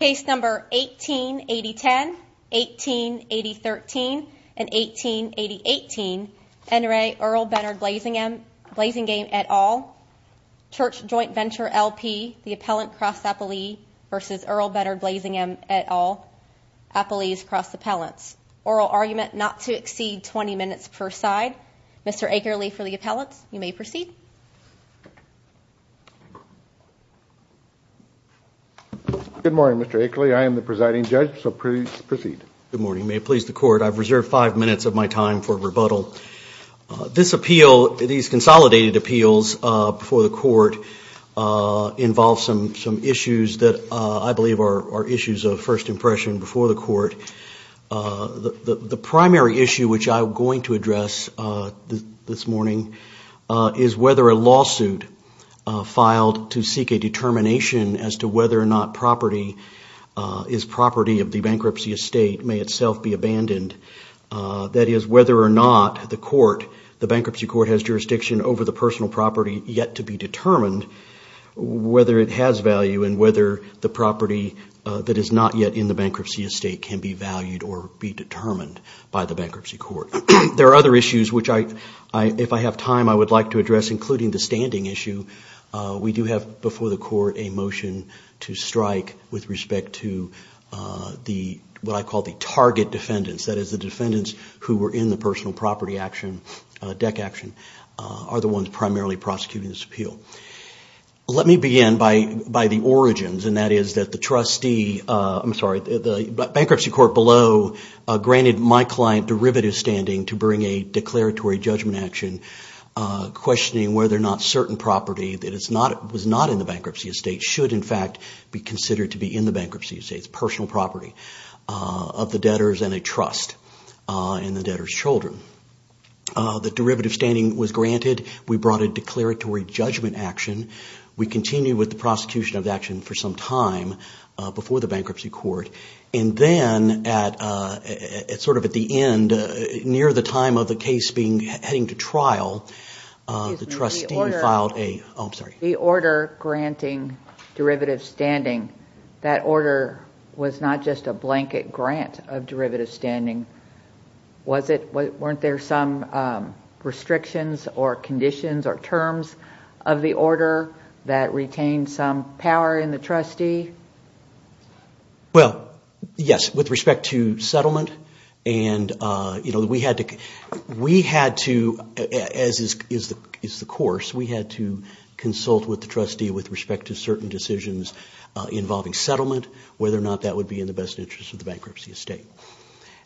Case number 1880 10 1880 13 and 1880 18 NRA Earl Benard Blazingham blazing game at all church joint venture LP the appellant cross appellee versus Earl Benard Blazingham at all a police cross appellants oral argument not to exceed 20 minutes per side. Mr. Akerley for the appellate. You may proceed. Good morning, Mr Akerley. I am the presiding judge. So please proceed. Good morning. May please the court. I've reserved five minutes of my time for rebuttal. This appeal, these consolidated appeals before the court involve some some issues that I believe are issues of first impression before the court. The primary issue which I'm going to address this morning is whether a lawsuit filed to seek a determination as to whether or not property is property of the bankruptcy estate may itself be abandoned. That is whether or not the court, the bankruptcy court has jurisdiction over the personal property yet to be determined whether it has value and whether the estate can be valued or be determined by the bankruptcy court. There are other issues which I if I have time I would like to address including the standing issue. We do have before the court a motion to strike with respect to the what I call the target defendants. That is the defendants who were in the personal property action deck action are the ones primarily prosecuting this appeal. Let me begin by by the origins and that is that the trustee I'm sorry the bankruptcy court below granted my client derivative standing to bring a declaratory judgment action questioning whether or not certain property that it's not it was not in the bankruptcy estate should in fact be considered to be in the bankruptcy estate's personal property of the debtors and a trust in the debtors children. The derivative standing was granted we brought a declaratory judgment action. We continue with the prosecution of action for some time before the bankruptcy court and then at it's sort of at the end near the time of the case being heading to trial the trustee filed a the order granting derivative standing that order was not just a blanket grant of derivative standing was it what weren't there some restrictions or conditions or terms of the order that retained some power in the trustee? Well yes with respect to settlement and you know we had to we had to as is is the is the course we had to consult with the trustee with respect to certain decisions involving settlement whether or not that would be in the best interest of the bankruptcy estate.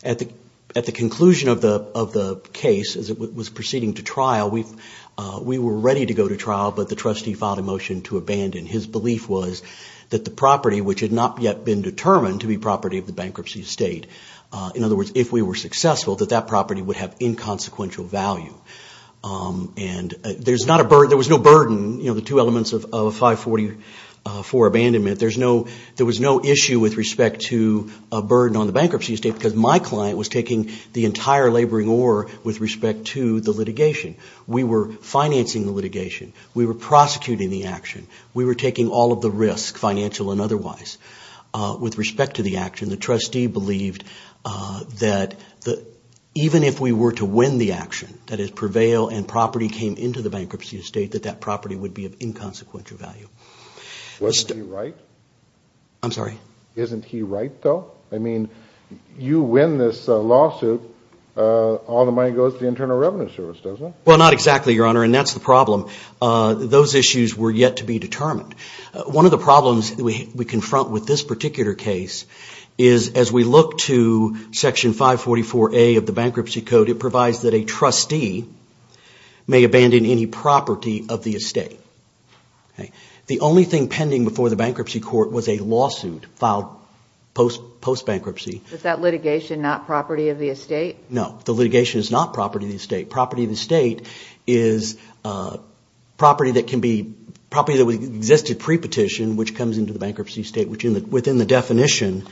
At the at the conclusion of the of the case as it was proceeding to trial we've we were ready to go to trial but the trustee filed a motion to abandon his belief was that the property which had not yet been determined to be property of the bankruptcy estate in other words if we were successful that that property would have inconsequential value and there's not a burden there was no burden you know the two elements of a 544 abandonment there's no there was no issue with respect to a burden on the bankruptcy estate because my client was taking the entire laboring or with respect to the litigation we were financing the litigation we were prosecuting the action we were taking all of the risk financial and otherwise with respect to the action the trustee believed that that even if we were to win the action that is prevail and property came into the bankruptcy estate that that property would be of inconsequential value. Wasn't he right? I'm sorry. Isn't he right though? I mean you win this lawsuit all the money goes to the Internal Revenue Service doesn't it? Well not exactly your honor and that's the problem those issues were yet to be determined one of the problems we confront with this particular case is as we look to section 544a of the Bankruptcy Code it provides that a trustee may abandon any property of the estate. The only thing pending before the bankruptcy court was a lawsuit filed post post bankruptcy. Was that litigation not property of the estate? No the litigation is not property of the estate property of the state is property that can be property that we existed pre petition which comes into the bankruptcy state which in the within the definition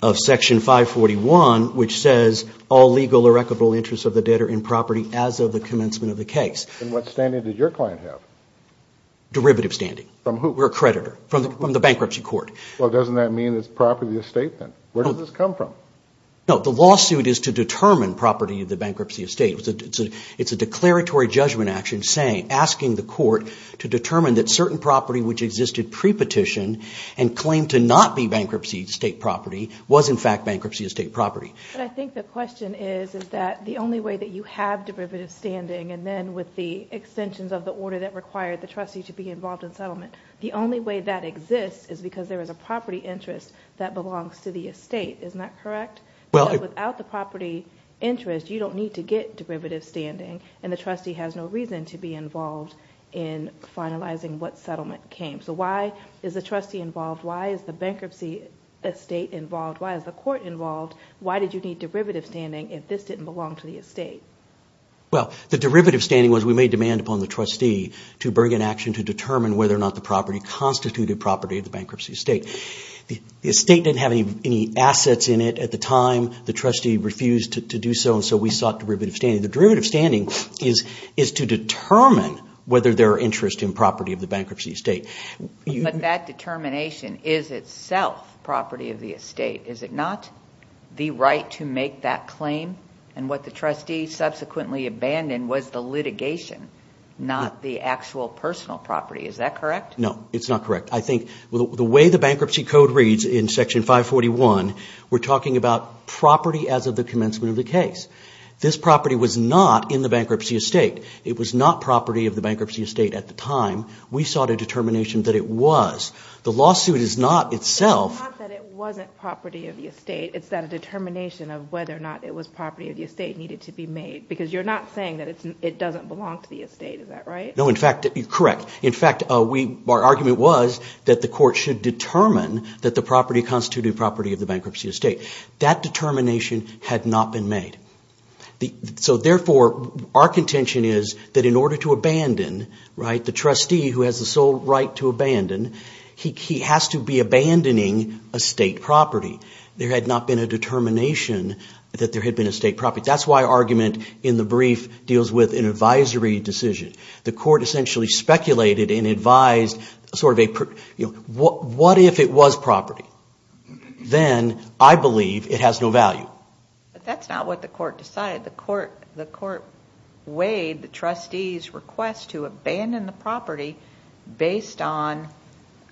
of section 541 which says all legal or equitable interests of the debtor in property as of the commencement of the case. And what standing did your client have? Derivative standing. From who? We're a creditor from the bankruptcy court. Well doesn't that mean it's property of the estate then? Where does this come from? No the lawsuit is to determine property of the it's a declaratory judgment action saying asking the court to determine that certain property which existed pre-petition and claim to not be bankruptcy state property was in fact bankruptcy of state property. I think the question is that the only way that you have derivative standing and then with the extensions of the order that required the trustee to be involved in settlement the only way that exists is because there is a property interest that belongs to the estate. Isn't that correct? Well without the property interest you don't need to get derivative standing and the trustee has no reason to be involved in finalizing what settlement came. So why is the trustee involved? Why is the bankruptcy estate involved? Why is the court involved? Why did you need derivative standing if this didn't belong to the estate? Well the derivative standing was we made demand upon the trustee to bring an action to determine whether or not the property constituted property of the bankruptcy estate. The estate didn't have any any assets in it at the time the trustee refused to do so and so we sought derivative standing. The derivative standing is is to determine whether there are interest in property of the bankruptcy estate. But that determination is itself property of the estate. Is it not the right to make that claim and what the trustee subsequently abandoned was the litigation not the actual personal property. Is that correct? No it's not correct. I think the way the bankruptcy code reads in section 541 we're talking about property as of the commencement of the case. This property was not in the bankruptcy estate. It was not property of the bankruptcy estate at the time. We sought a determination that it was. The lawsuit is not itself property of the estate. It's that a determination of whether or not it was property of the estate needed to be made because you're not saying that it doesn't belong to the estate. Is that right? No in fact correct. In fact our argument was that the court should determine that the property constituted property of the bankruptcy estate. That determination had not been made. So therefore our contention is that in order to abandon, right, the trustee who has the sole right to abandon he has to be abandoning a state property. There had not been a determination that there had been a state property. That's why argument in the brief deals with an advisory decision. The court essentially speculated and advised sort of a what if it was property? Then I believe it has no value. But that's not what the court decided. The court weighed the trustee's request to abandon the property based on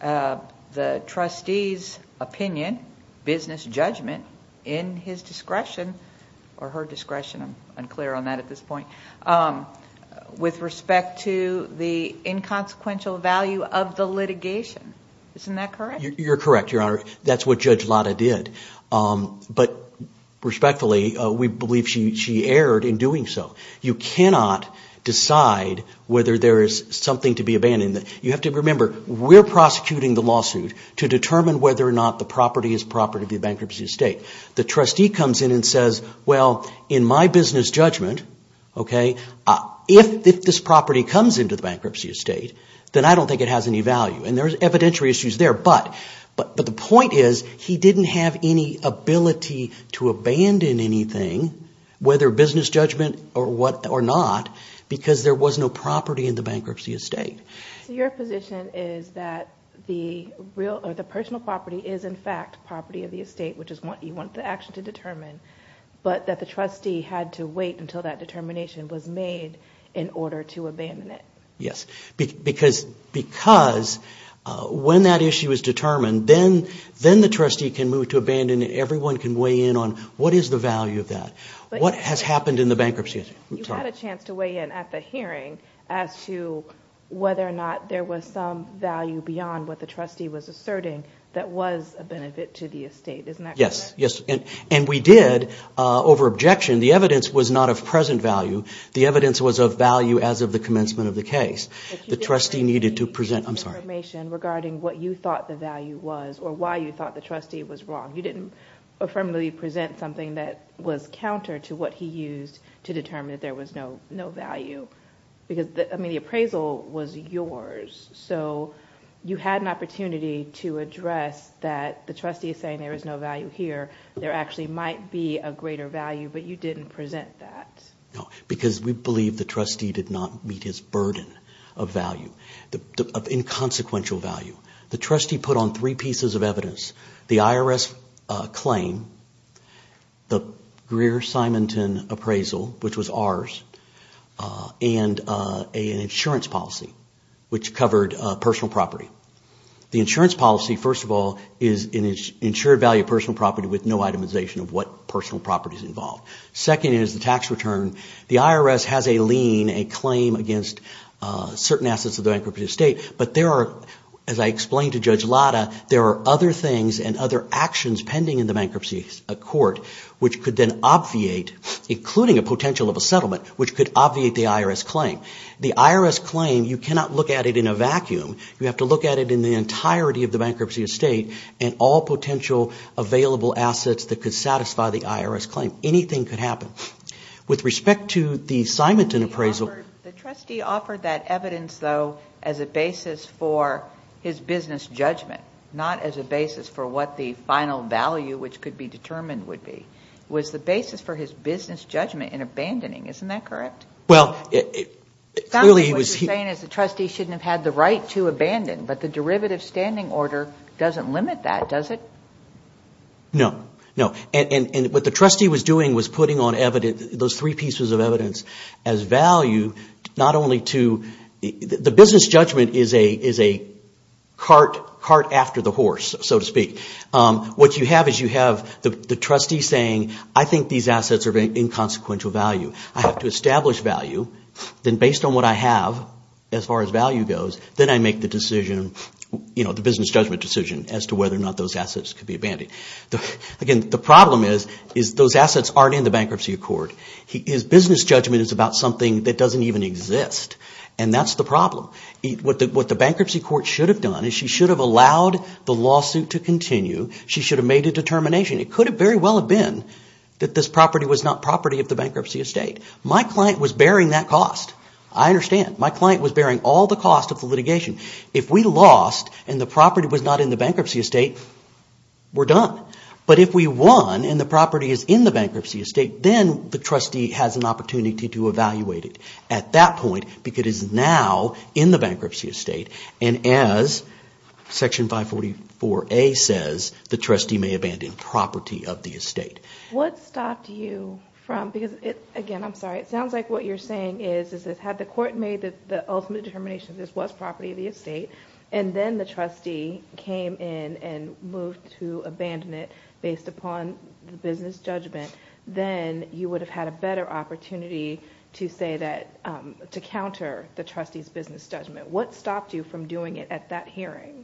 the trustee's opinion, business judgment in his discretion or her discretion. I'm unclear on that at this point. With respect to the inconsequential value of the litigation. Isn't that correct? You're correct Your Honor. That's what Judge Lata did. But respectfully we believe she erred in doing so. You cannot decide whether there is something to be abandoned. You have to remember we're prosecuting the lawsuit to determine whether or not the property is property of the bankruptcy estate. The trustee comes in and says well in my business judgment, okay, if this property comes into the bankruptcy estate, then I don't think it has any value. And there's evidential issues there. But the point is he didn't have any ability to abandon anything, whether business judgment or not, because there was no property in the bankruptcy estate. Your position is that the personal property is in fact property of the estate, which is what you want the action to determine. But that the trustee had to wait until that determination was made in order to abandon it. Yes, because when that issue is determined, then the trustee can move to abandon it. Everyone can weigh in on what is the value of that. What has happened in the bankruptcy estate? You had a chance to weigh in at the hearing as to whether or not there was some value beyond what the trustee was asserting that was a benefit to the estate. Isn't that correct? Yes. And we did over objection. The evidence was not of present value. The evidence was of value as of the commencement of the case. The trustee needed to present, I'm sorry, information regarding what you thought the value was or why you thought the trustee was wrong. You didn't affirmatively present something that was counter to what he used to determine that there was no value. Because, I mean, the appraisal was yours. So you had an opportunity to address that the trustee is saying there is no value here. There actually might be a greater value but you didn't present that. No, because we believe the trustee did not meet his burden of value, of inconsequential value. The trustee put on three pieces of evidence. The IRS claim, the Greer-Simonton appraisal, which was ours, and an insurance policy, which covered personal property. The insurance policy, first of all, is an insured value of personal property with no itemization of what personal property is involved. Second is the tax return. The IRS has a lien, a claim against certain assets of the bankruptcy estate, but there are, as I explained to Judge Lada, there are other things and other actions pending in the bankruptcy court which could then obviate, including a potential of a settlement, which could obviate the IRS claim. The IRS claim, you cannot look at it in a vacuum. You have to look at it in the entirety of the bankruptcy estate and all potential available assets that could satisfy the IRS claim. Anything could happen. With respect to the Simonton appraisal... The trustee offered that evidence, though, as a basis for his business judgment, not as a basis for what the final value, which could be determined, would be. It was the basis for his business judgment in abandoning, isn't that correct? Well, clearly he was... What you're saying is the trustee shouldn't have had the right to abandon, but the trustee can't limit that, does it? No, no. What the trustee was doing was putting on evidence, those three pieces of evidence, as value, not only to... The business judgment is a cart after the horse, so to speak. What you have is you have the trustee saying, I think these assets are of inconsequential value. I have to establish value, then based on what I have, as far as value goes, then I make the decision, the business judgment decision, as to whether or not those assets could be abandoned. Again, the problem is those assets aren't in the bankruptcy accord. His business judgment is about something that doesn't even exist, and that's the problem. What the bankruptcy court should have done is she should have allowed the lawsuit to continue. She should have made a determination. It could have very well have been that this property was not property of the bankruptcy estate. My client was bearing that cost. I If we lost and the property was not in the bankruptcy estate, we're done. But if we won and the property is in the bankruptcy estate, then the trustee has an opportunity to evaluate it at that point, because it is now in the bankruptcy estate, and as Section 544A says, the trustee may abandon property of the estate. What stopped you from... Because, again, I'm sorry, it sounds like what you're saying is, is that had the court made the ultimate determination this was property of the estate, and then the trustee came in and moved to abandon it based upon the business judgment, then you would have had a better opportunity to say that... to counter the trustee's business judgment. What stopped you from doing it at that hearing?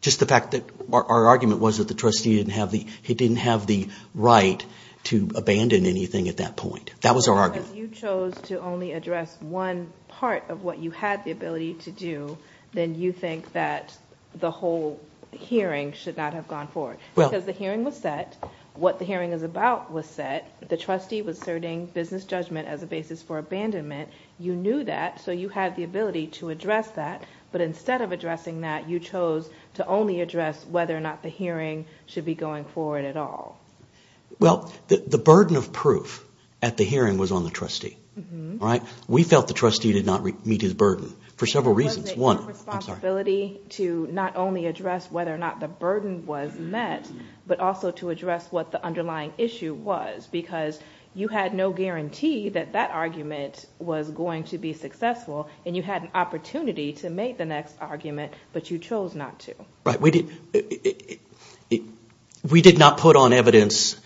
Just the fact that our argument was that the trustee didn't have the... he didn't have the right to abandon anything at that point. That was our argument. You chose to only address one part of what you had the ability to do, then you think that the whole hearing should not have gone forward. Because the hearing was set, what the hearing is about was set, the trustee was asserting business judgment as a basis for abandonment. You knew that, so you had the ability to address that, but instead of addressing that, you chose to only address whether or not the hearing should be going forward at all. Well, the burden of proof at the hearing was on the trustee, right? We felt the trustee did not meet his burden for several reasons. One, responsibility to not only address whether or not the burden was met, but also to address what the underlying issue was. Because you had no guarantee that that argument was going to be successful, and you had an opportunity to make the next argument, but you chose not to. Right, we did... we did not put on evidence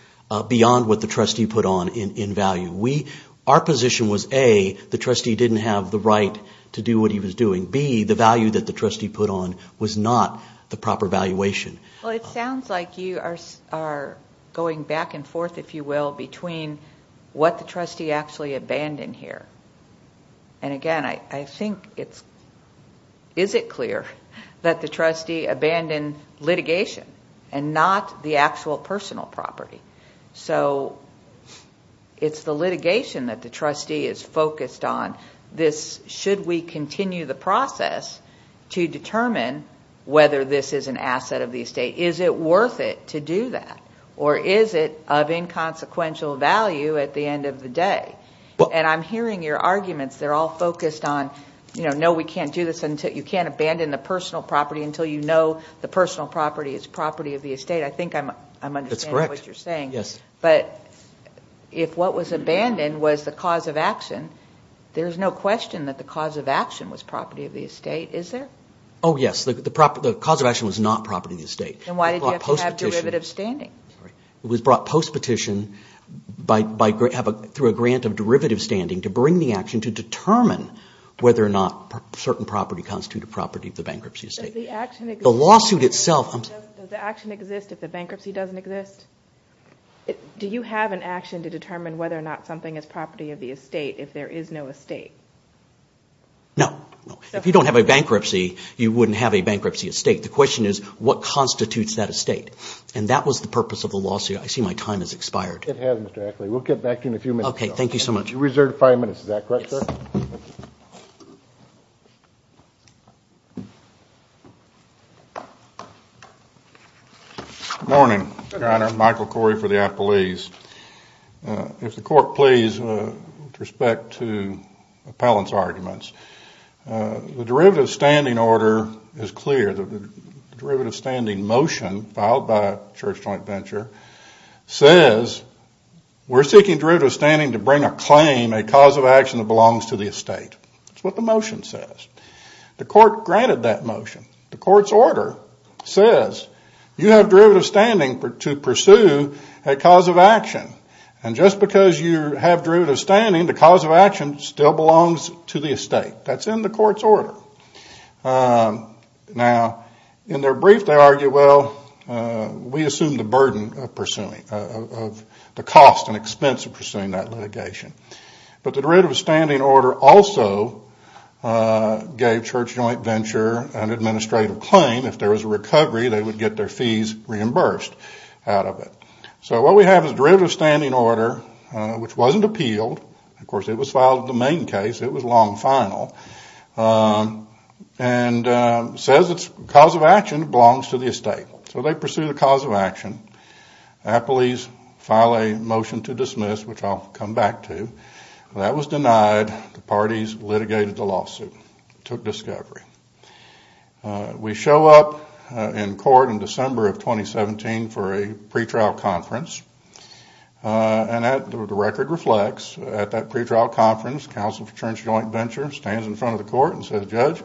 beyond what the trustee put on in value. We... our position was A, the trustee didn't have the right to do what he was doing. B, the value that the trustee put on was not the proper valuation. Well, it sounds like you are going back and forth, if you will, between what the trustee actually abandoned here. And again, I think it's... is it clear that the trustee abandoned litigation, and not the actual personal property? So, it's the litigation that the trustee is focused on. This... should we continue the process to determine whether this is an asset of the estate? Is it worth it to do that, or is it of inconsequential value at the end of the day? And I'm hearing your arguments, they're all focused on, you know, no, we can't do this until... you can't abandon the personal property until you know the personal property is property of the estate. I think I'm... I'm understanding what you're saying. Yes. But, if what was abandoned was the cause of action, there's no question that the cause of action was property of the estate, is there? Oh yes, the property... the cause of action was not property of the estate. And why did you have to have derivative standing? It was brought post-petition by... by... have a... through a grant of derivative standing to bring the action to determine whether or not certain property constituted property of the bankruptcy estate. Does the action exist... The lawsuit itself... Does the action exist if the bankruptcy doesn't exist? Do you have an action to determine whether or not something is property of the estate if there is no estate? No. If you don't have a bankruptcy, you wouldn't have a bankruptcy estate. The question is, what constitutes that estate? And that was the purpose of the lawsuit. I see my time has expired. It has, Mr. Ackley. We'll get back to you in a few minutes. Okay, thank you so much. You're reserved five minutes, is that correct, sir? Morning. Michael Corey for the Appellees. If the court please, with respect to Appellant's arguments. The derivative standing order is clear. The derivative standing motion filed by Church Joint Venture says we're seeking derivative standing to bring a claim, a cause of action that belongs to the estate. That's what the motion says. The court granted that motion. The court's order says you have derivative standing to pursue a cause of action. And just because you have derivative standing, the cause of action still belongs to the estate. That's in the court's order. Now, in their brief, they argue, well, we assume the burden of pursuing... of the cost and expense of pursuing that litigation. But the derivative standing order also gave Church Joint Venture an administrative claim. If there was a recovery, they would get their fees reimbursed out of it. So what we have is derivative standing order, which wasn't appealed. Of course, it was filed in the main case. It was long final. And says its cause of action belongs to the estate. So they pursue the cause of action. Appellees file a motion to dismiss, which I'll come back to. That was denied. The parties litigated the lawsuit. Took discovery. We show up in court in December of 2017 for a pretrial conference. And the record reflects, at that pretrial conference, Council for Church Joint Venture stands in front of the court and says, Judge,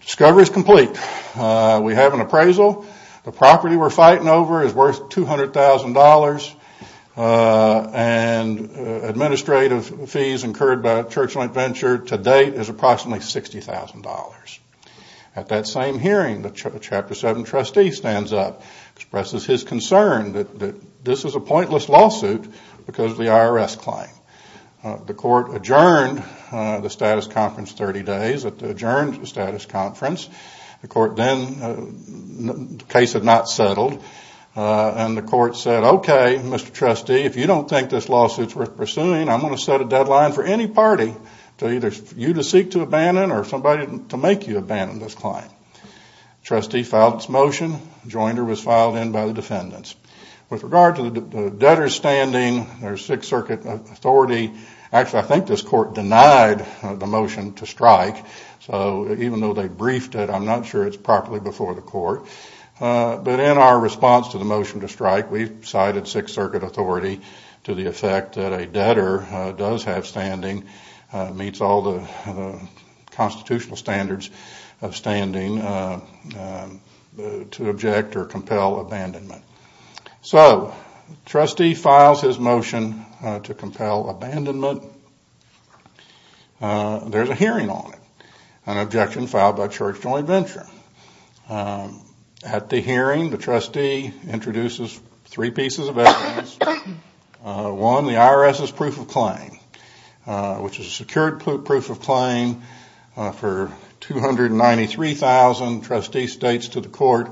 discovery's complete. We have an appraisal. The property we're fighting over is a property that's been acquired, is worth $200,000, and administrative fees incurred by Church Joint Venture to date is approximately $60,000. At that same hearing, the Chapter 7 trustee stands up, expresses his concern that this is a pointless lawsuit because of the IRS claim. The court adjourned the status conference 30 days. It adjourned the status conference. The court then, the case had not settled. And the court said, okay, Mr. Trustee, if you don't think this lawsuit's worth pursuing, I'm going to set a deadline for any party to either you to seek to abandon or somebody to make you abandon this claim. Trustee filed its motion. Jointer was filed in by the defendants. With regard to the debtor's standing, there's Sixth Circuit authority. Actually, I think this court denied the motion to strike. So even though they briefed it, I'm not sure it's properly before the court. But in our response to the motion to strike, we've cited Sixth Circuit authority to the effect that a debtor does have standing, meets all the constitutional standards of standing, to object or compel abandonment. So, Trustee files his motion to compel abandonment. There's a hearing on it. An objection filed by Church Joint Venture. At the hearing, the trustee introduces three pieces of evidence. One, the IRS's proof of claim, which is a secured proof of claim for $293,000. Trustee states to the court,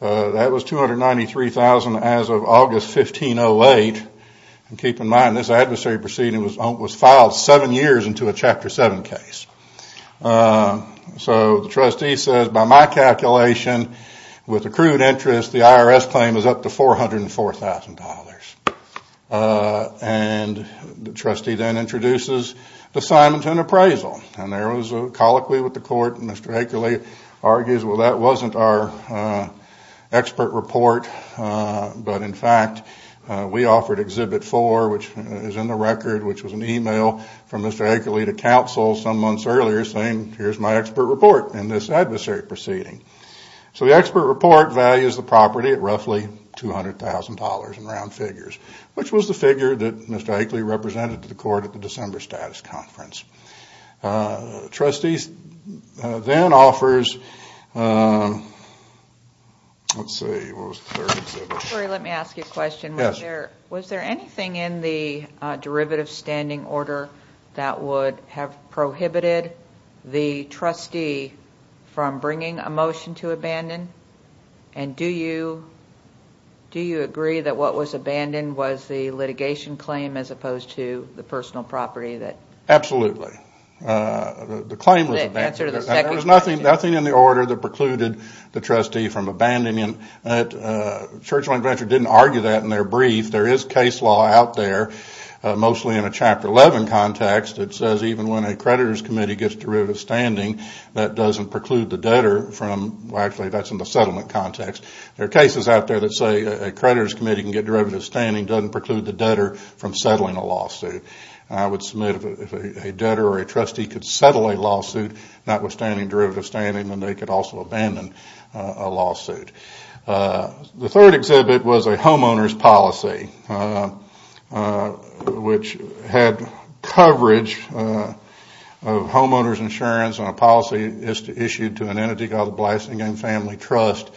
that was $293,000 as of August 15, 08. Keep in mind, this adversary proceeding was filed seven years into a Chapter 7 case. So, the trustee says, by my calculation, with accrued interest, the IRS claim is up to $404,000. And the trustee then introduces the Simonton appraisal. And there was a colloquy with the court. Mr. Akeley argues, well, that wasn't our expert report. But in fact, we offered Exhibit 4, which is in the record, which was an email from Mr. Akeley to counsel some months earlier saying, here's my expert report in this adversary proceeding. So, the expert report values the property at roughly $200,000 in round figures, which was the figure that Mr. Akeley represented to the court at the December status conference. Trustees then offers, let's see, what was the third exhibit? Let me ask you a question. Was there anything in the derivative standing order that would have prohibited the trustee from bringing a motion to abandon? And do you agree that what was abandoned was the litigation claim as opposed to the personal property? Absolutely. The claim was abandoned. There was nothing in the order that precluded the trustee from abandoning it. Churchland Venture didn't argue that in their brief. There is case law out there, mostly in a Chapter 11 context, that says even when a creditor's committee gets derivative standing, that doesn't preclude the debtor from, well, actually, that's in the settlement context. There are cases out there that say a creditor's committee can get derivative standing, doesn't preclude the debtor from settling a lawsuit. I would submit if a debtor or a trustee could settle a lawsuit notwithstanding derivative standing, then they could also abandon a lawsuit. The third exhibit was a homeowner's policy, which had coverage of homeowner's insurance on a policy issued to an entity called the Blasingame Family Trust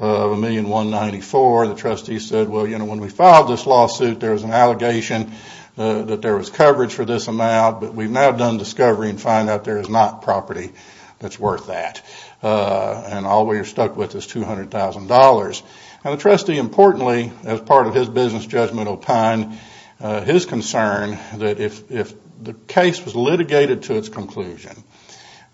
of $1,194,000. The trustee said, well, you know, when we filed this lawsuit, there was an allegation that there was coverage for this amount, but we've now done discovery and found out there is not property that's worth that. And all we're stuck with is $200,000. And the trustee, importantly, as part of his business judgment opined, his concern that if the case was litigated to its conclusion,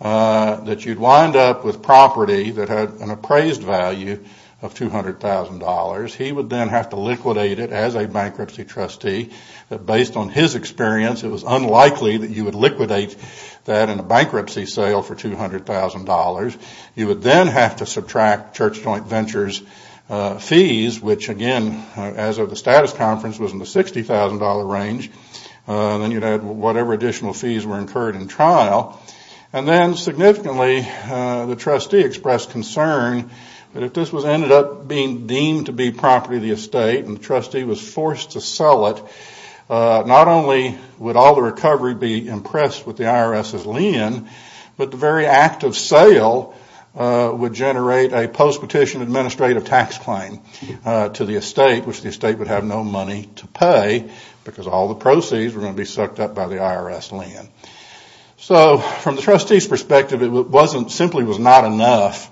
that you'd wind up with property that had an appraised value of $200,000, he would then have to liquidate it as a bankruptcy trustee. Based on his experience, it was unlikely that you would liquidate that in a bankruptcy sale for $200,000. You would then have to subtract Church Joint Ventures' fees, which again, as of the status conference, was in the $60,000 range. Then you'd add whatever additional fees were incurred in trial. And then significantly, the trustee expressed concern that if this ended up being deemed to be property of the estate and the trustee was forced to sell it, not only would all the recovery be impressed with the IRS's lien, but the very act of sale would generate a post-petition administrative tax claim to the estate, which the estate would have no money to pay because all the proceeds were going to be sucked up by the IRS lien. So from the trustee's perspective, it simply was not enough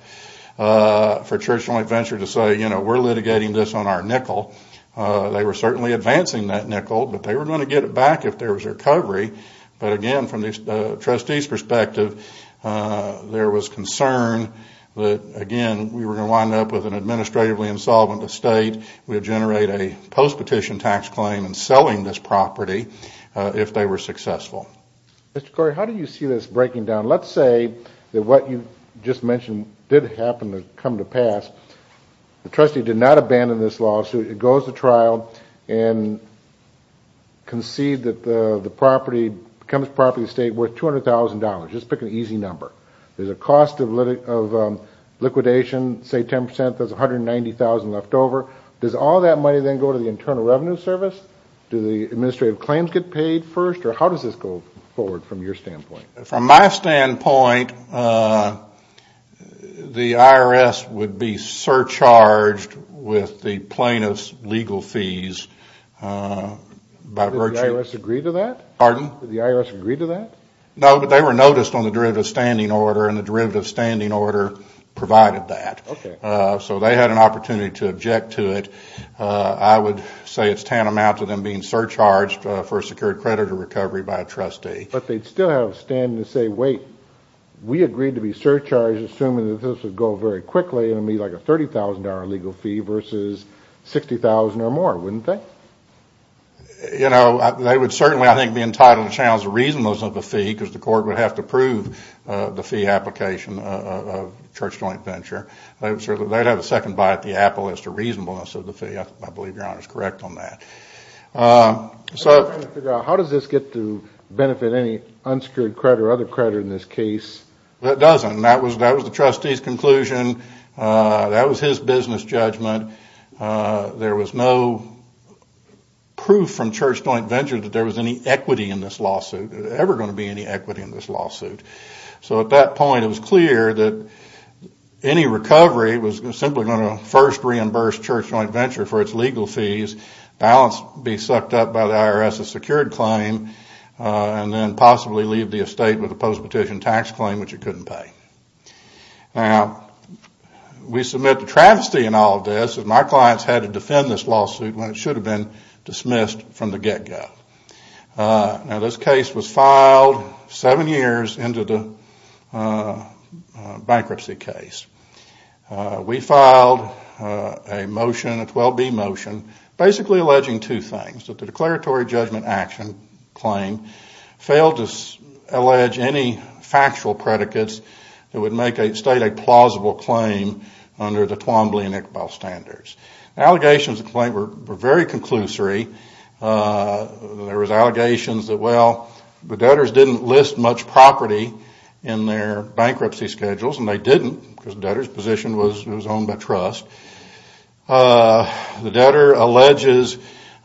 for Church Joint Ventures to say, you know, we're litigating this on our nickel. They were certainly advancing that nickel, but they were going to get it back if there was recovery. But again, from the trustee's perspective, there was concern that again, we were going to wind up with an administratively insolvent estate. We would generate a post-petition tax claim in selling this property if they were successful. Mr. Corey, how do you see this breaking down? Let's say that what you just mentioned did happen to come to pass. The trustee did not abandon this lawsuit. It goes to trial and concede that the property becomes property of the estate worth $200,000. Just pick an easy number. There's a cost of liquidation, say 10%. There's $190,000 left over. Does all that money then go to the Internal Revenue Service? Do the administrative claims get paid first, or how does this go forward from your standpoint? From my standpoint, the IRS would be surcharged with the plaintiff's legal fees by virtue of... Did the IRS agree to that? Pardon? Did the IRS agree to that? No, but they were noticed on the derivative standing order, and the derivative standing order provided that. Okay. So they had an opportunity to object to it. I would say it's tantamount to them being surcharged for a secured credit or recovery by a trustee. But they'd still have a standing to say, wait, we agreed to be surcharged assuming that this would go very quickly and it would be like a $30,000 legal fee versus $60,000 or more, wouldn't they? You know, they would certainly, I think, be entitled to challenge the reasonableness of the fee because the court would have to approve the fee application of Church Joint Venture. They'd have a second bite at the apple as to reasonableness of the fee. I believe Your Honor is correct on that. How does this get to benefit any unsecured credit or other credit in this case? It doesn't. That was the trustee's conclusion. That was his business judgment. There was no proof from Church Joint Venture that there was any equity in this lawsuit, ever going to be any equity in this lawsuit. So at that point, it was clear that any recovery was simply going to first reimburse Church Joint Venture for its legal fees, balance be sucked up by the IRS's secured claim, and then possibly leave the estate with a post-petition tax claim which it couldn't pay. Now, we submit the travesty in all of this that my clients had to defend this lawsuit when it should have been dismissed from the get-go. Now, this case was filed seven years into the bankruptcy case. We filed a motion, a 12B motion, basically alleging two things, that the declaratory judgment action claim failed to allege any factual predicates that would make a state a plausible claim under the Twombly and Iqbal standards. Allegations of claim were very conclusory. There was allegations that, well, the debtors didn't list much property in their bankruptcy schedules, and they didn't, because the debtor's position was owned by trust. The debtor alleges,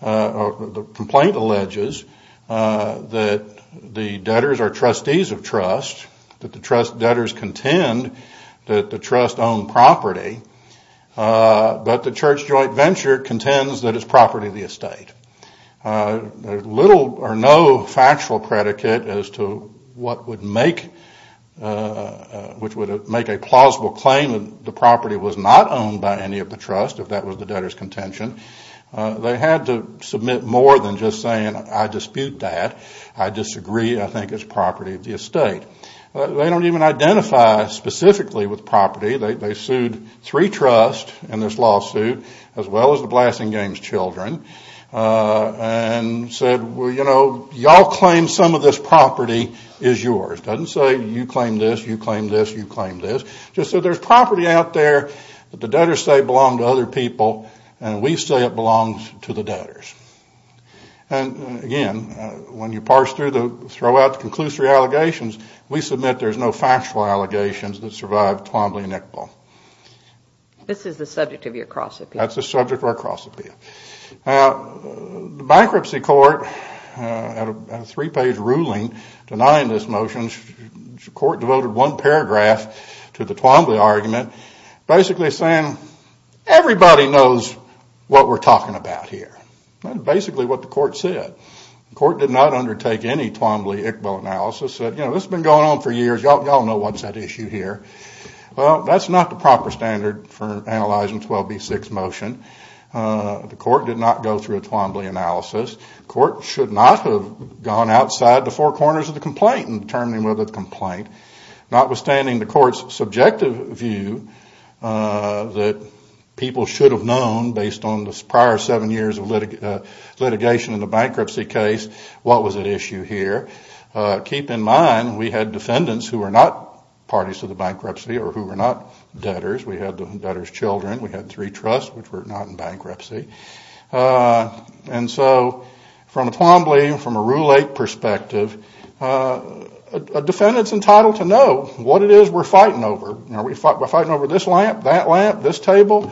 or the complaint alleges, that the debtors are trustees of trust, that the debtors contend that the trust owned property, but the church joint venture contends that it's property of the estate. There's little or no factual predicate as to what would make a plausible claim that the property was not owned by any of the trust, if that was the debtor's contention. They had to submit more than just saying, I dispute that, I disagree, I think it's property of the estate. They don't even identify specifically with property. They sued three trusts in this lawsuit, as well as the Blasting Games children, and said, well, you know, y'all claim some of this property is yours. It doesn't say you claim this, you claim this, you claim this. Just that there's property out there that the debtors say belonged to other people, and we say it belongs to the debtors. And, again, when you parse through the, throw out the conclusory allegations, we submit there's no factual allegations that survived Twombly and Iqbal. This is the subject of your cross-appeal. That's the subject of our cross-appeal. The bankruptcy court, at a three-page ruling, denying this motion, the court devoted one paragraph to the Twombly argument, basically saying, everybody knows what we're talking about here. That's basically what the court said. The court did not undertake any Twombly-Iqbal analysis, said, you know, this has been going on for years, y'all know what's at issue here. Well, that's not the proper standard for analyzing 12b-6 motion. The court did not go through a Twombly analysis. The court should not have gone outside the four corners of the complaint in determining whether the complaint, notwithstanding the court's subjective view that people should have known based on the prior seven years of litigation in the bankruptcy case, what was at issue here. Keep in mind, we had defendants who were not parties to the bankruptcy or who were not debtors. We had the debtors' children. We had three trusts which were not in bankruptcy. And so, from a Twombly, from a Rule 8 perspective, a defendant's entitled to know what it is we're fighting over. Are we fighting over this lamp, that lamp, this table?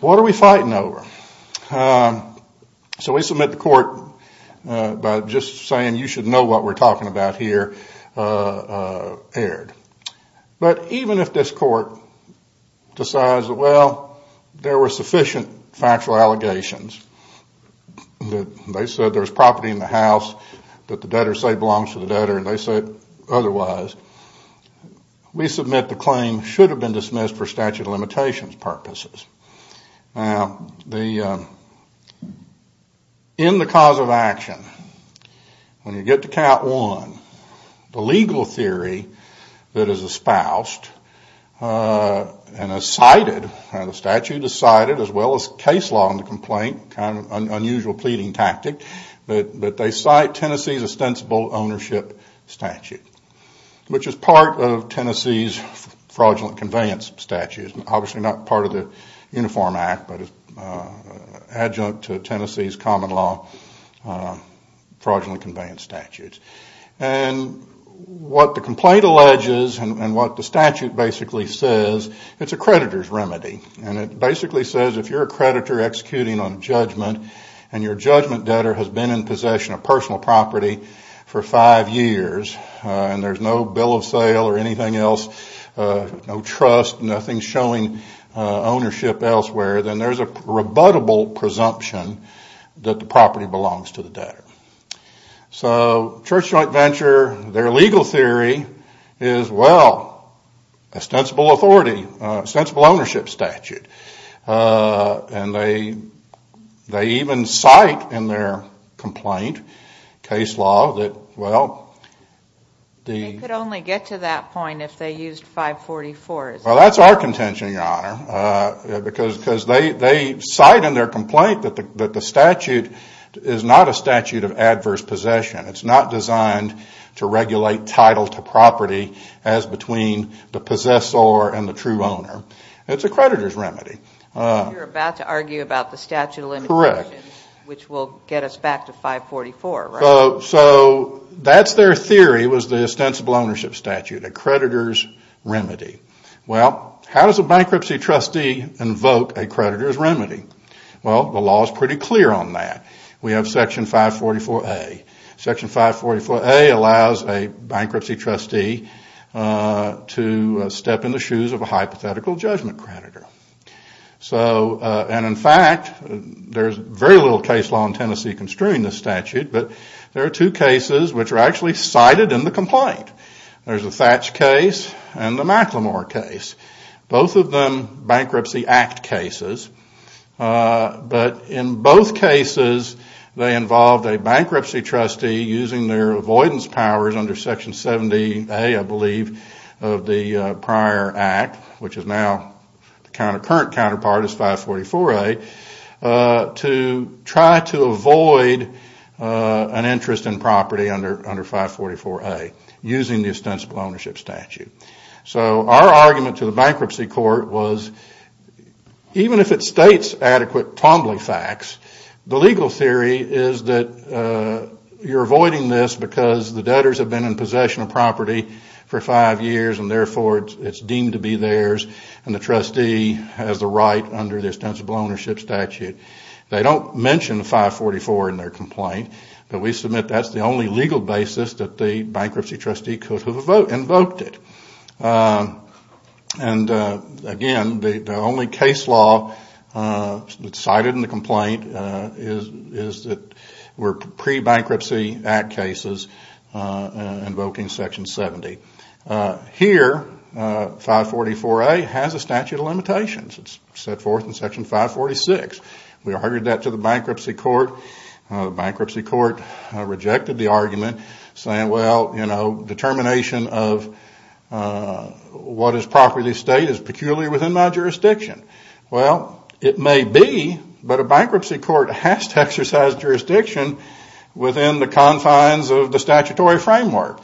What are we fighting over? So we submit the court by just saying, you should know what we're talking about here, erred. But even if this court decides that, well, there were sufficient factual allegations, that they said there was property in the house that the debtor said belongs to the debtor and they said otherwise, we submit the claim should have been dismissed for statute of limitations purposes. Now, in the cause of action, when you get to count one, the legal theory that is espoused and is cited, and the statute is cited, as well as case law in the complaint, kind of an unusual pleading tactic, but they cite Tennessee's ostensible ownership statute, which is part of Tennessee's fraudulent conveyance statute. It's obviously not part of the Uniform Act, but it's adjunct to Tennessee's common law fraudulent conveyance statute. And what the complaint alleges and what the statute basically says, it's a creditor's remedy. And it basically says if you're a creditor executing on judgment and your judgment debtor has been in possession of personal property for five years and there's no bill of sale or anything else, no trust, nothing showing ownership elsewhere, then there's a rebuttable presumption that the property belongs to the debtor. So Church Joint Venture, their legal theory is, well, ostensible authority, ostensible ownership statute. And they even cite in their complaint case law that, well, the... Well, that's our contention, Your Honor, because they cite in their complaint that the statute is not a statute of adverse possession. It's not designed to regulate title to property as between the possessor and the true owner. It's a creditor's remedy. You're about to argue about the statute of limitations, which will get us back to 544, right? So that's their theory was the ostensible ownership statute. A creditor's remedy. Well, how does a bankruptcy trustee invoke a creditor's remedy? Well, the law is pretty clear on that. We have Section 544A. Section 544A allows a bankruptcy trustee to step in the shoes of a hypothetical judgment creditor. So, and in fact, there's very little case law in Tennessee construing this statute, but there are two cases which are actually cited in the complaint. There's the Thatch case and the McLemore case. Both of them Bankruptcy Act cases, but in both cases they involved a bankruptcy trustee using their avoidance powers under Section 70A, I believe, of the prior act, which is now the current counterpart is 544A, to try to avoid an interest in property under 544A using the ostensible ownership statute. So our argument to the bankruptcy court was even if it states adequate tombly facts, the legal theory is that you're avoiding this because the debtors have been in possession of property for five years and therefore it's deemed to be theirs and the trustee has the right under the ostensible ownership statute. They don't mention 544 in their complaint, but we submit that's the only legal basis that the bankruptcy trustee could have invoked it. And again, the only case law cited in the complaint is that we're pre-bankruptcy act cases invoking Section 70. Here, 544A has a statute of limitations. It's set forth in Section 546. We heard that to the bankruptcy court. The bankruptcy court rejected the argument, saying, well, determination of what is property estate is peculiar within my jurisdiction. Well, it may be, but a bankruptcy court has to exercise jurisdiction within the confines of the statutory framework.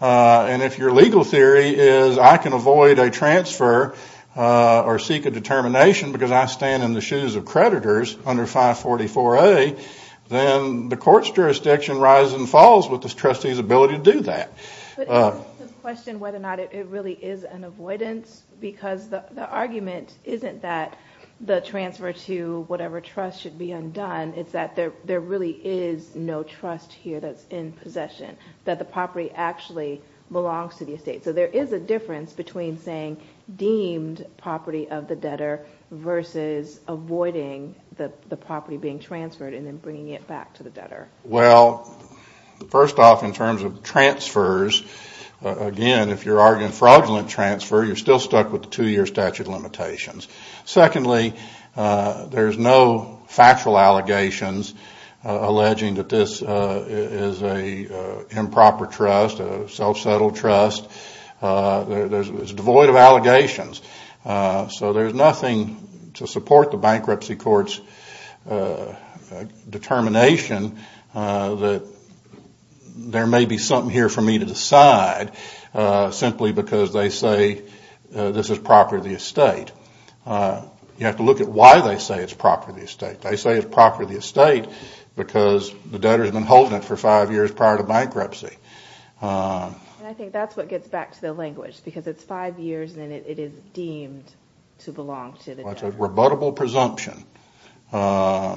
And if your legal theory is I can avoid a transfer or seek a determination because I stand in the shoes of creditors under 544A, then the court's jurisdiction rises and falls with the trustee's ability to do that. But it raises the question whether or not it really is an avoidance because the argument isn't that the transfer to whatever trust should be undone. It's that there really is no trust here that's in possession, that the property actually belongs to the estate. So there is a difference between saying deemed property of the debtor versus avoiding the property being transferred and then bringing it back to the debtor. Well, first off, in terms of transfers, again, if you're arguing fraudulent transfer, you're still stuck with the two-year statute of limitations. Secondly, there's no factual allegations alleging that this is an improper trust, a self-settled trust. It's devoid of allegations. So there's nothing to support the bankruptcy court's determination that there may be something here for me to decide simply because they say this is property of the estate. You have to look at why they say it's property of the estate. They say it's property of the estate because the debtor has been holding it for five years prior to bankruptcy. And I think that's what gets back to the language because it's five years and it is deemed to belong to the debtor. Well, it's a rebuttable presumption. But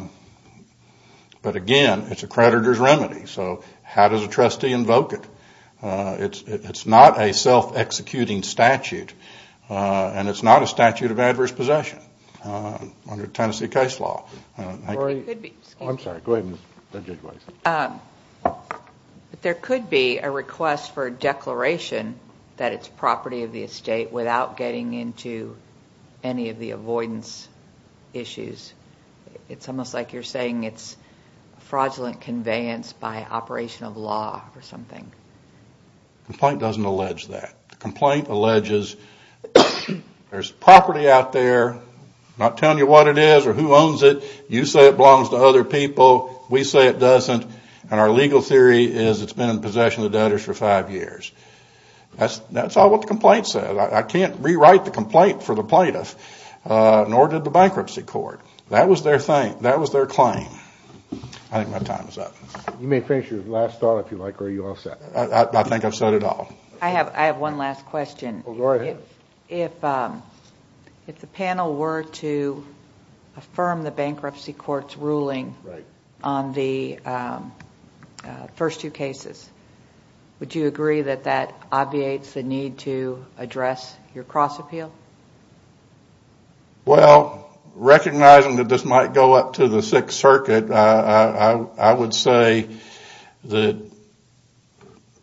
again, it's a creditor's remedy. So how does a trustee invoke it? It's not a self-executing statute, and it's not a statute of adverse possession under Tennessee case law. I'm sorry, go ahead. But there could be a request for a declaration that it's property of the estate without getting into any of the avoidance issues. It's almost like you're saying it's fraudulent conveyance by operation of law or something. The complaint doesn't allege that. The complaint alleges there's property out there, not telling you what it is or who owns it. You say it belongs to other people, we say it doesn't, and our legal theory is it's been in possession of the debtors for five years. That's all what the complaint said. I can't rewrite the complaint for the plaintiff, nor did the bankruptcy court. That was their claim. I think my time is up. You may finish your last thought if you like, or are you all set? I think I've said it all. I have one last question. Go ahead. If the panel were to affirm the bankruptcy court's ruling on the first two cases, would you agree that that obviates the need to address your cross-appeal? Well, recognizing that this might go up to the Sixth Circuit, I would say that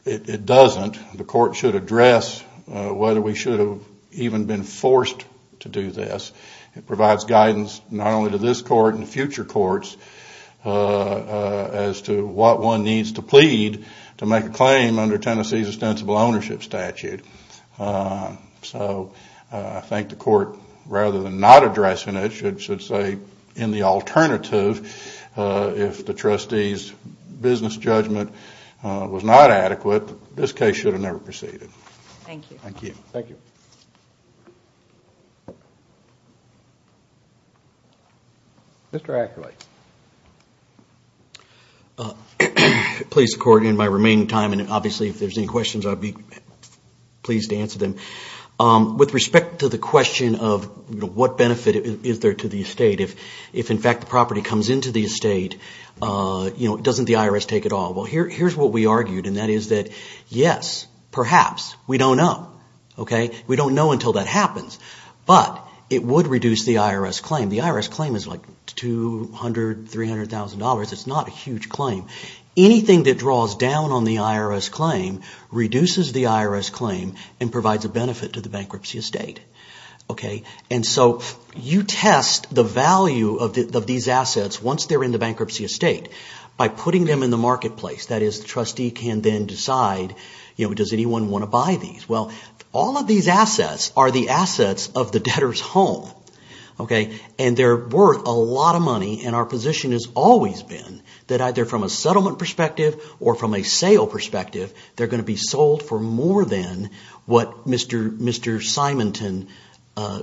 it doesn't. The court should address whether we should have even been forced to do this. It provides guidance not only to this court and future courts as to what one needs to plead to make a claim under Tennessee's ostensible ownership statute. So I think the court, rather than not addressing it, should say in the alternative, if the trustee's business judgment was not adequate, this case should have never proceeded. Thank you. Thank you. Mr. Ackerley. Please, the court, in my remaining time, and obviously if there's any questions I'd be pleased to answer them. With respect to the question of what benefit is there to the estate, if in fact the property comes into the estate, doesn't the IRS take it all? Well, here's what we argued, and that is that yes, perhaps. We don't know. We don't know until that happens. But it would reduce the IRS claim. The IRS claim is like $200,000, $300,000. It's not a huge claim. Anything that draws down on the IRS claim reduces the IRS claim and provides a benefit to the bankruptcy estate. And so you test the value of these assets once they're in the bankruptcy estate by putting them in the marketplace. That is, the trustee can then decide, does anyone want to buy these? Well, all of these assets are the assets of the debtor's home. And they're worth a lot of money, and our position has always been that either from a settlement perspective or from a sale perspective, they're going to be sold for more than what Mr. Simonton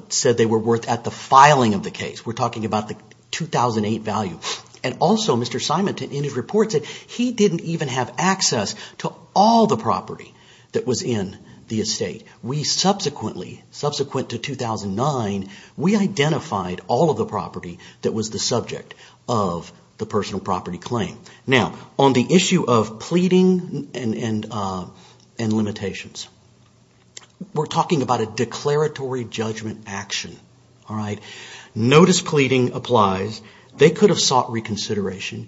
said they were worth at the filing of the case. We're talking about the 2008 value. And also, Mr. Simonton, in his report, said he didn't even have access to all the property that was in the estate. We subsequently, subsequent to 2009, we identified all of the property that was the subject of the personal property claim. Now, on the issue of pleading and limitations, we're talking about a declaratory judgment action. Notice pleading applies. They could have sought reconsideration.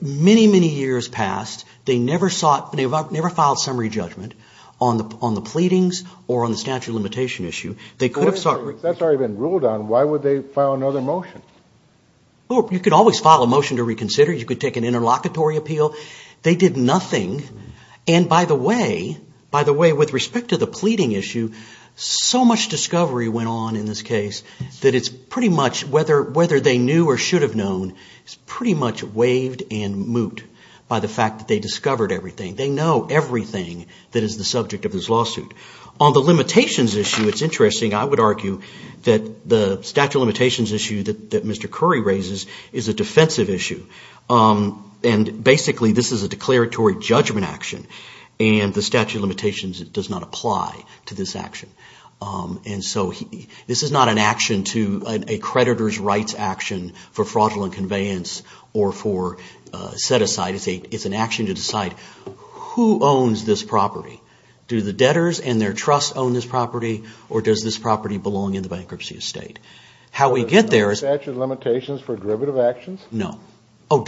Many, many years passed. They never filed summary judgment on the pleadings or on the statute of limitation issue. If that's already been ruled on, why would they file another motion? You could always file a motion to reconsider. You could take an interlocutory appeal. They did nothing. And by the way, with respect to the pleading issue, so much discovery went on in this case that it's pretty much, whether they knew or should have known is pretty much waived and moot by the fact that they discovered everything. They know everything that is the subject of this lawsuit. On the limitations issue, it's interesting. I would argue that the statute of limitations issue that Mr. Curry raises is a defensive issue. And basically, this is a declaratory judgment action, and the statute of limitations does not apply to this action. And so this is not an action to a creditor's rights action for fraudulent conveyance or for set-aside. It's an action to decide who owns this property. Do the debtors and their trusts own this property, or does this property belong in the bankruptcy estate? How we get there is... Is there no statute of limitations for derivative actions? No. Oh,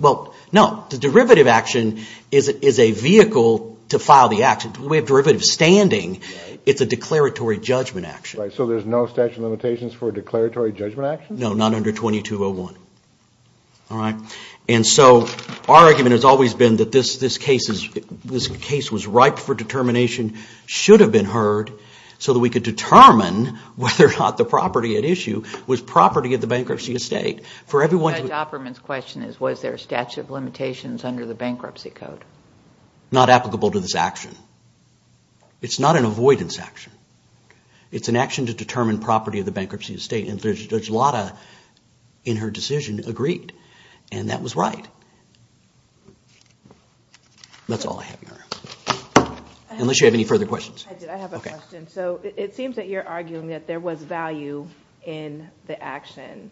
well, no. The derivative action is a vehicle to file the action. We have derivative standing. It's a declaratory judgment action. Right, so there's no statute of limitations for declaratory judgment actions? No, not under 2201. All right. And so our argument has always been that this case was ripe for determination, should have been heard, so that we could determine whether or not the property at issue was property of the bankruptcy estate. Judge Opperman's question is, was there a statute of limitations under the bankruptcy code? Not applicable to this action. It's not an avoidance action. It's an action to determine property of the bankruptcy estate, and Judge Lada, in her decision, agreed, and that was right. That's all I have. Unless you have any further questions. I have a question. So it seems that you're arguing that there was value in the action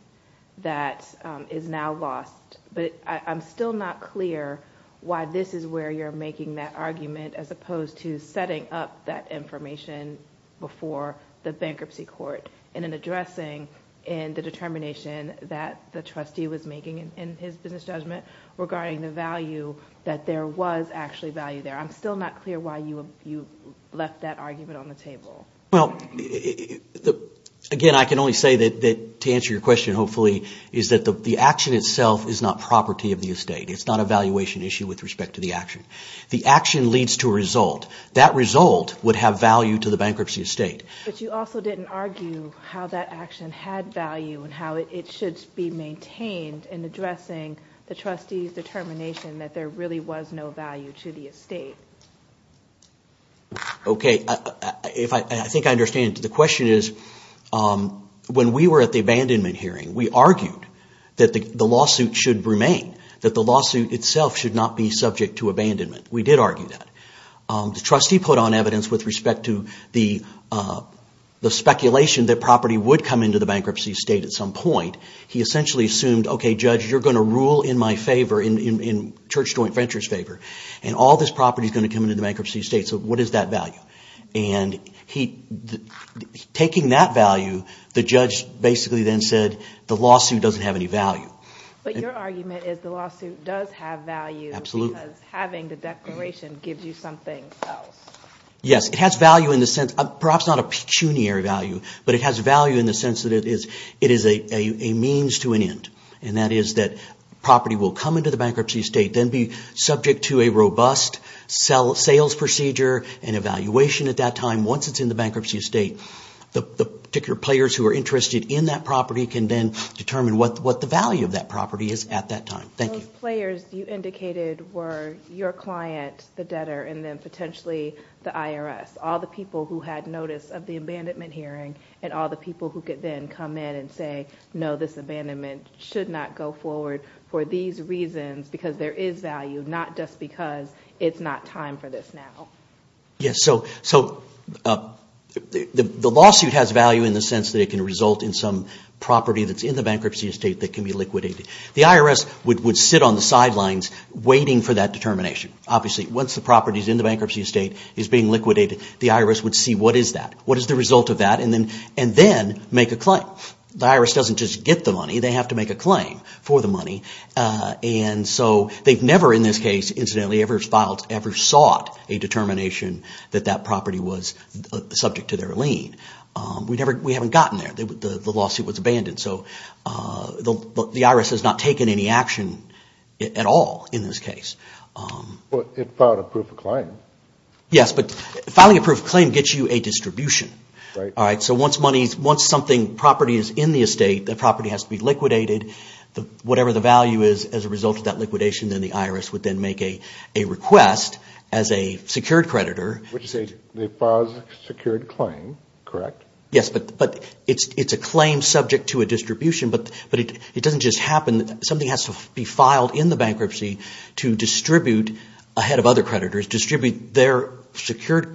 that is now lost, but I'm still not clear why this is where you're making that argument, as opposed to setting up that information before the bankruptcy court in an addressing in the determination that the trustee was making in his business judgment regarding the value that there was actually value there. I'm still not clear why you left that argument on the table. Well, again, I can only say that, to answer your question, hopefully, is that the action itself is not property of the estate. It's not a valuation issue with respect to the action. The action leads to a result. That result would have value to the bankruptcy estate. But you also didn't argue how that action had value and how it should be maintained in addressing the trustee's determination that there really was no value to the estate. Okay, I think I understand. The question is, when we were at the abandonment hearing, we argued that the lawsuit should remain, that the lawsuit itself should not be subject to abandonment. We did argue that. The trustee put on evidence with respect to the speculation that property would come into the bankruptcy estate at some point. He essentially assumed, okay, Judge, you're going to rule in my favor, in Church Joint Ventures' favor, and all this property is going to come into the bankruptcy estate, so what is that value? And taking that value, the judge basically then said, the lawsuit doesn't have any value. But your argument is the lawsuit does have value because having the declaration gives you something else. Yes, it has value in the sense, perhaps not a pecuniary value, but it has value in the sense that it is a means to an end. And that is that property will come into the bankruptcy estate, then be subject to a robust sales procedure and evaluation at that time. Once it's in the bankruptcy estate, the particular players who are interested in that property can then determine what the value of that property is at that time. Thank you. Those players you indicated were your client, the debtor, and then potentially the IRS, all the people who had notice of the abandonment hearing and all the people who could then come in and say, no, this abandonment should not go forward for these reasons because there is value, not just because it's not time for this now. Yes. So the lawsuit has value in the sense that it can result in some property that's in the bankruptcy estate that can be liquidated. The IRS would sit on the sidelines waiting for that determination. Obviously, once the property is in the bankruptcy estate, is being liquidated, the IRS would see what is that, what is the result of that, and then make a claim. The IRS doesn't just get the money. They have to make a claim for the money. And so they've never in this case, incidentally, ever sought a determination that that property was subject to their lien. We haven't gotten there. The lawsuit was abandoned. So the IRS has not taken any action at all in this case. Well, it filed a proof of claim. Yes, but filing a proof of claim gets you a distribution. Right. All right. So once property is in the estate, the property has to be liquidated. Whatever the value is as a result of that liquidation, then the IRS would then make a request as a secured creditor. Would you say they filed a secured claim, correct? Yes, but it's a claim subject to a distribution. But it doesn't just happen. Something has to be filed in the bankruptcy to distribute, ahead of other creditors, distribute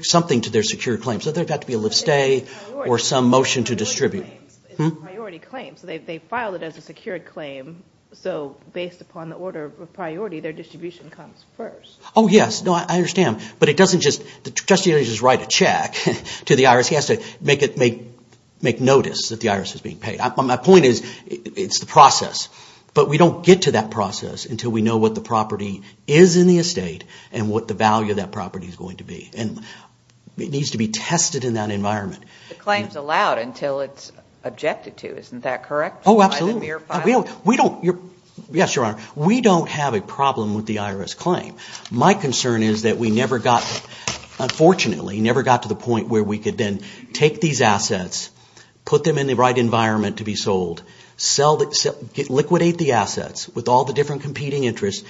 something to their secured claim. So there would have to be a lift stay or some motion to distribute. It's a priority claim. So they filed it as a secured claim. So based upon the order of priority, their distribution comes first. Oh, yes. No, I understand. But it doesn't just – the justiciary doesn't just write a check to the IRS. He has to make notice that the IRS is being paid. My point is it's the process. But we don't get to that process until we know what the property is in the estate and what the value of that property is going to be. And it needs to be tested in that environment. The claim is allowed until it's objected to. Isn't that correct? Oh, absolutely. We don't – yes, Your Honor. We don't have a problem with the IRS claim. My concern is that we never got – unfortunately, never got to the point where we could then take these assets, put them in the right environment to be sold, liquidate the assets with all the different competing interests,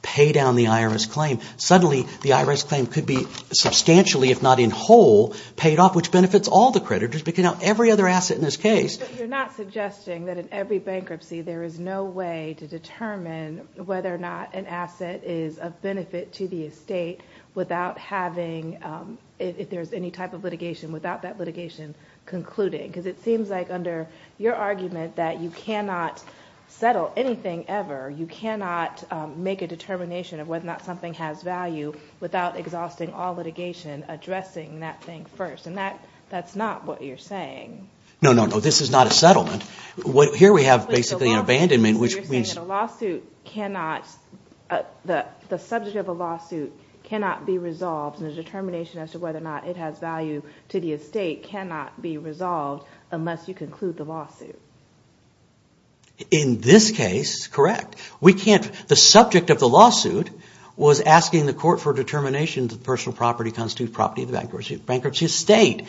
pay down the IRS claim. Suddenly, the IRS claim could be substantially, if not in whole, paid off, which benefits all the creditors but, you know, every other asset in this case. But you're not suggesting that in every bankruptcy there is no way to determine whether or not an asset is of benefit to the estate without having – if there's any type of litigation without that litigation concluding? Because it seems like under your argument that you cannot settle anything ever. You cannot make a determination of whether or not something has value without exhausting all litigation, addressing that thing first. And that's not what you're saying. No, no, no. This is not a settlement. Here we have basically an abandonment, which means – You're saying that a lawsuit cannot – the subject of a lawsuit cannot be resolved and the determination as to whether or not it has value to the estate cannot be resolved unless you conclude the lawsuit. In this case, correct. We can't – the subject of the lawsuit was asking the court for determination that personal property constitutes property of the bankruptcy estate.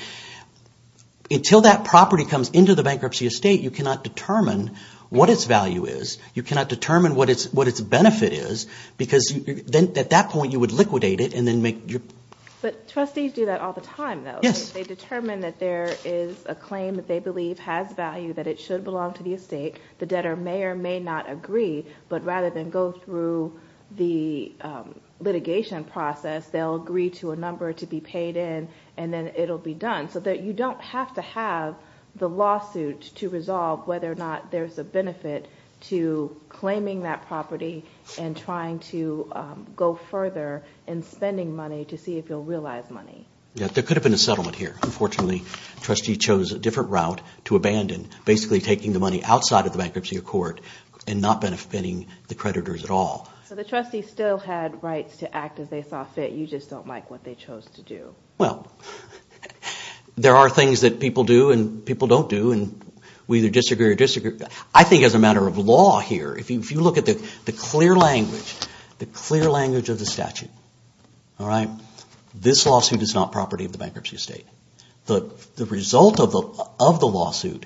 Until that property comes into the bankruptcy estate, you cannot determine what its value is. You cannot determine what its benefit is because at that point you would liquidate it and then make – But trustees do that all the time, though. Yes. They determine that there is a claim that they believe has value, that it should belong to the estate. The debtor may or may not agree, but rather than go through the litigation process, they'll agree to a number to be paid in and then it'll be done. So you don't have to have the lawsuit to resolve whether or not there's a benefit to claiming that property and trying to go further in spending money to see if you'll realize money. There could have been a settlement here. Unfortunately, the trustee chose a different route to abandon, basically taking the money outside of the bankruptcy accord and not benefiting the creditors at all. So the trustee still had rights to act as they saw fit. You just don't like what they chose to do. Well, there are things that people do and people don't do, and we either disagree or disagree. I think as a matter of law here, if you look at the clear language, the clear language of the statute, this lawsuit is not property of the bankruptcy estate. The result of the lawsuit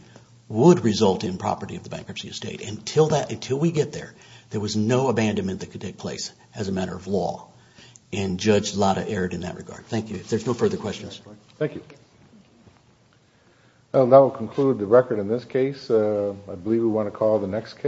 would result in property of the bankruptcy estate. Until we get there, there was no abandonment that could take place as a matter of law, and Judge Latta erred in that regard. Thank you. If there's no further questions. Thank you. Well, that will conclude the record in this case. I believe we want to call the next case.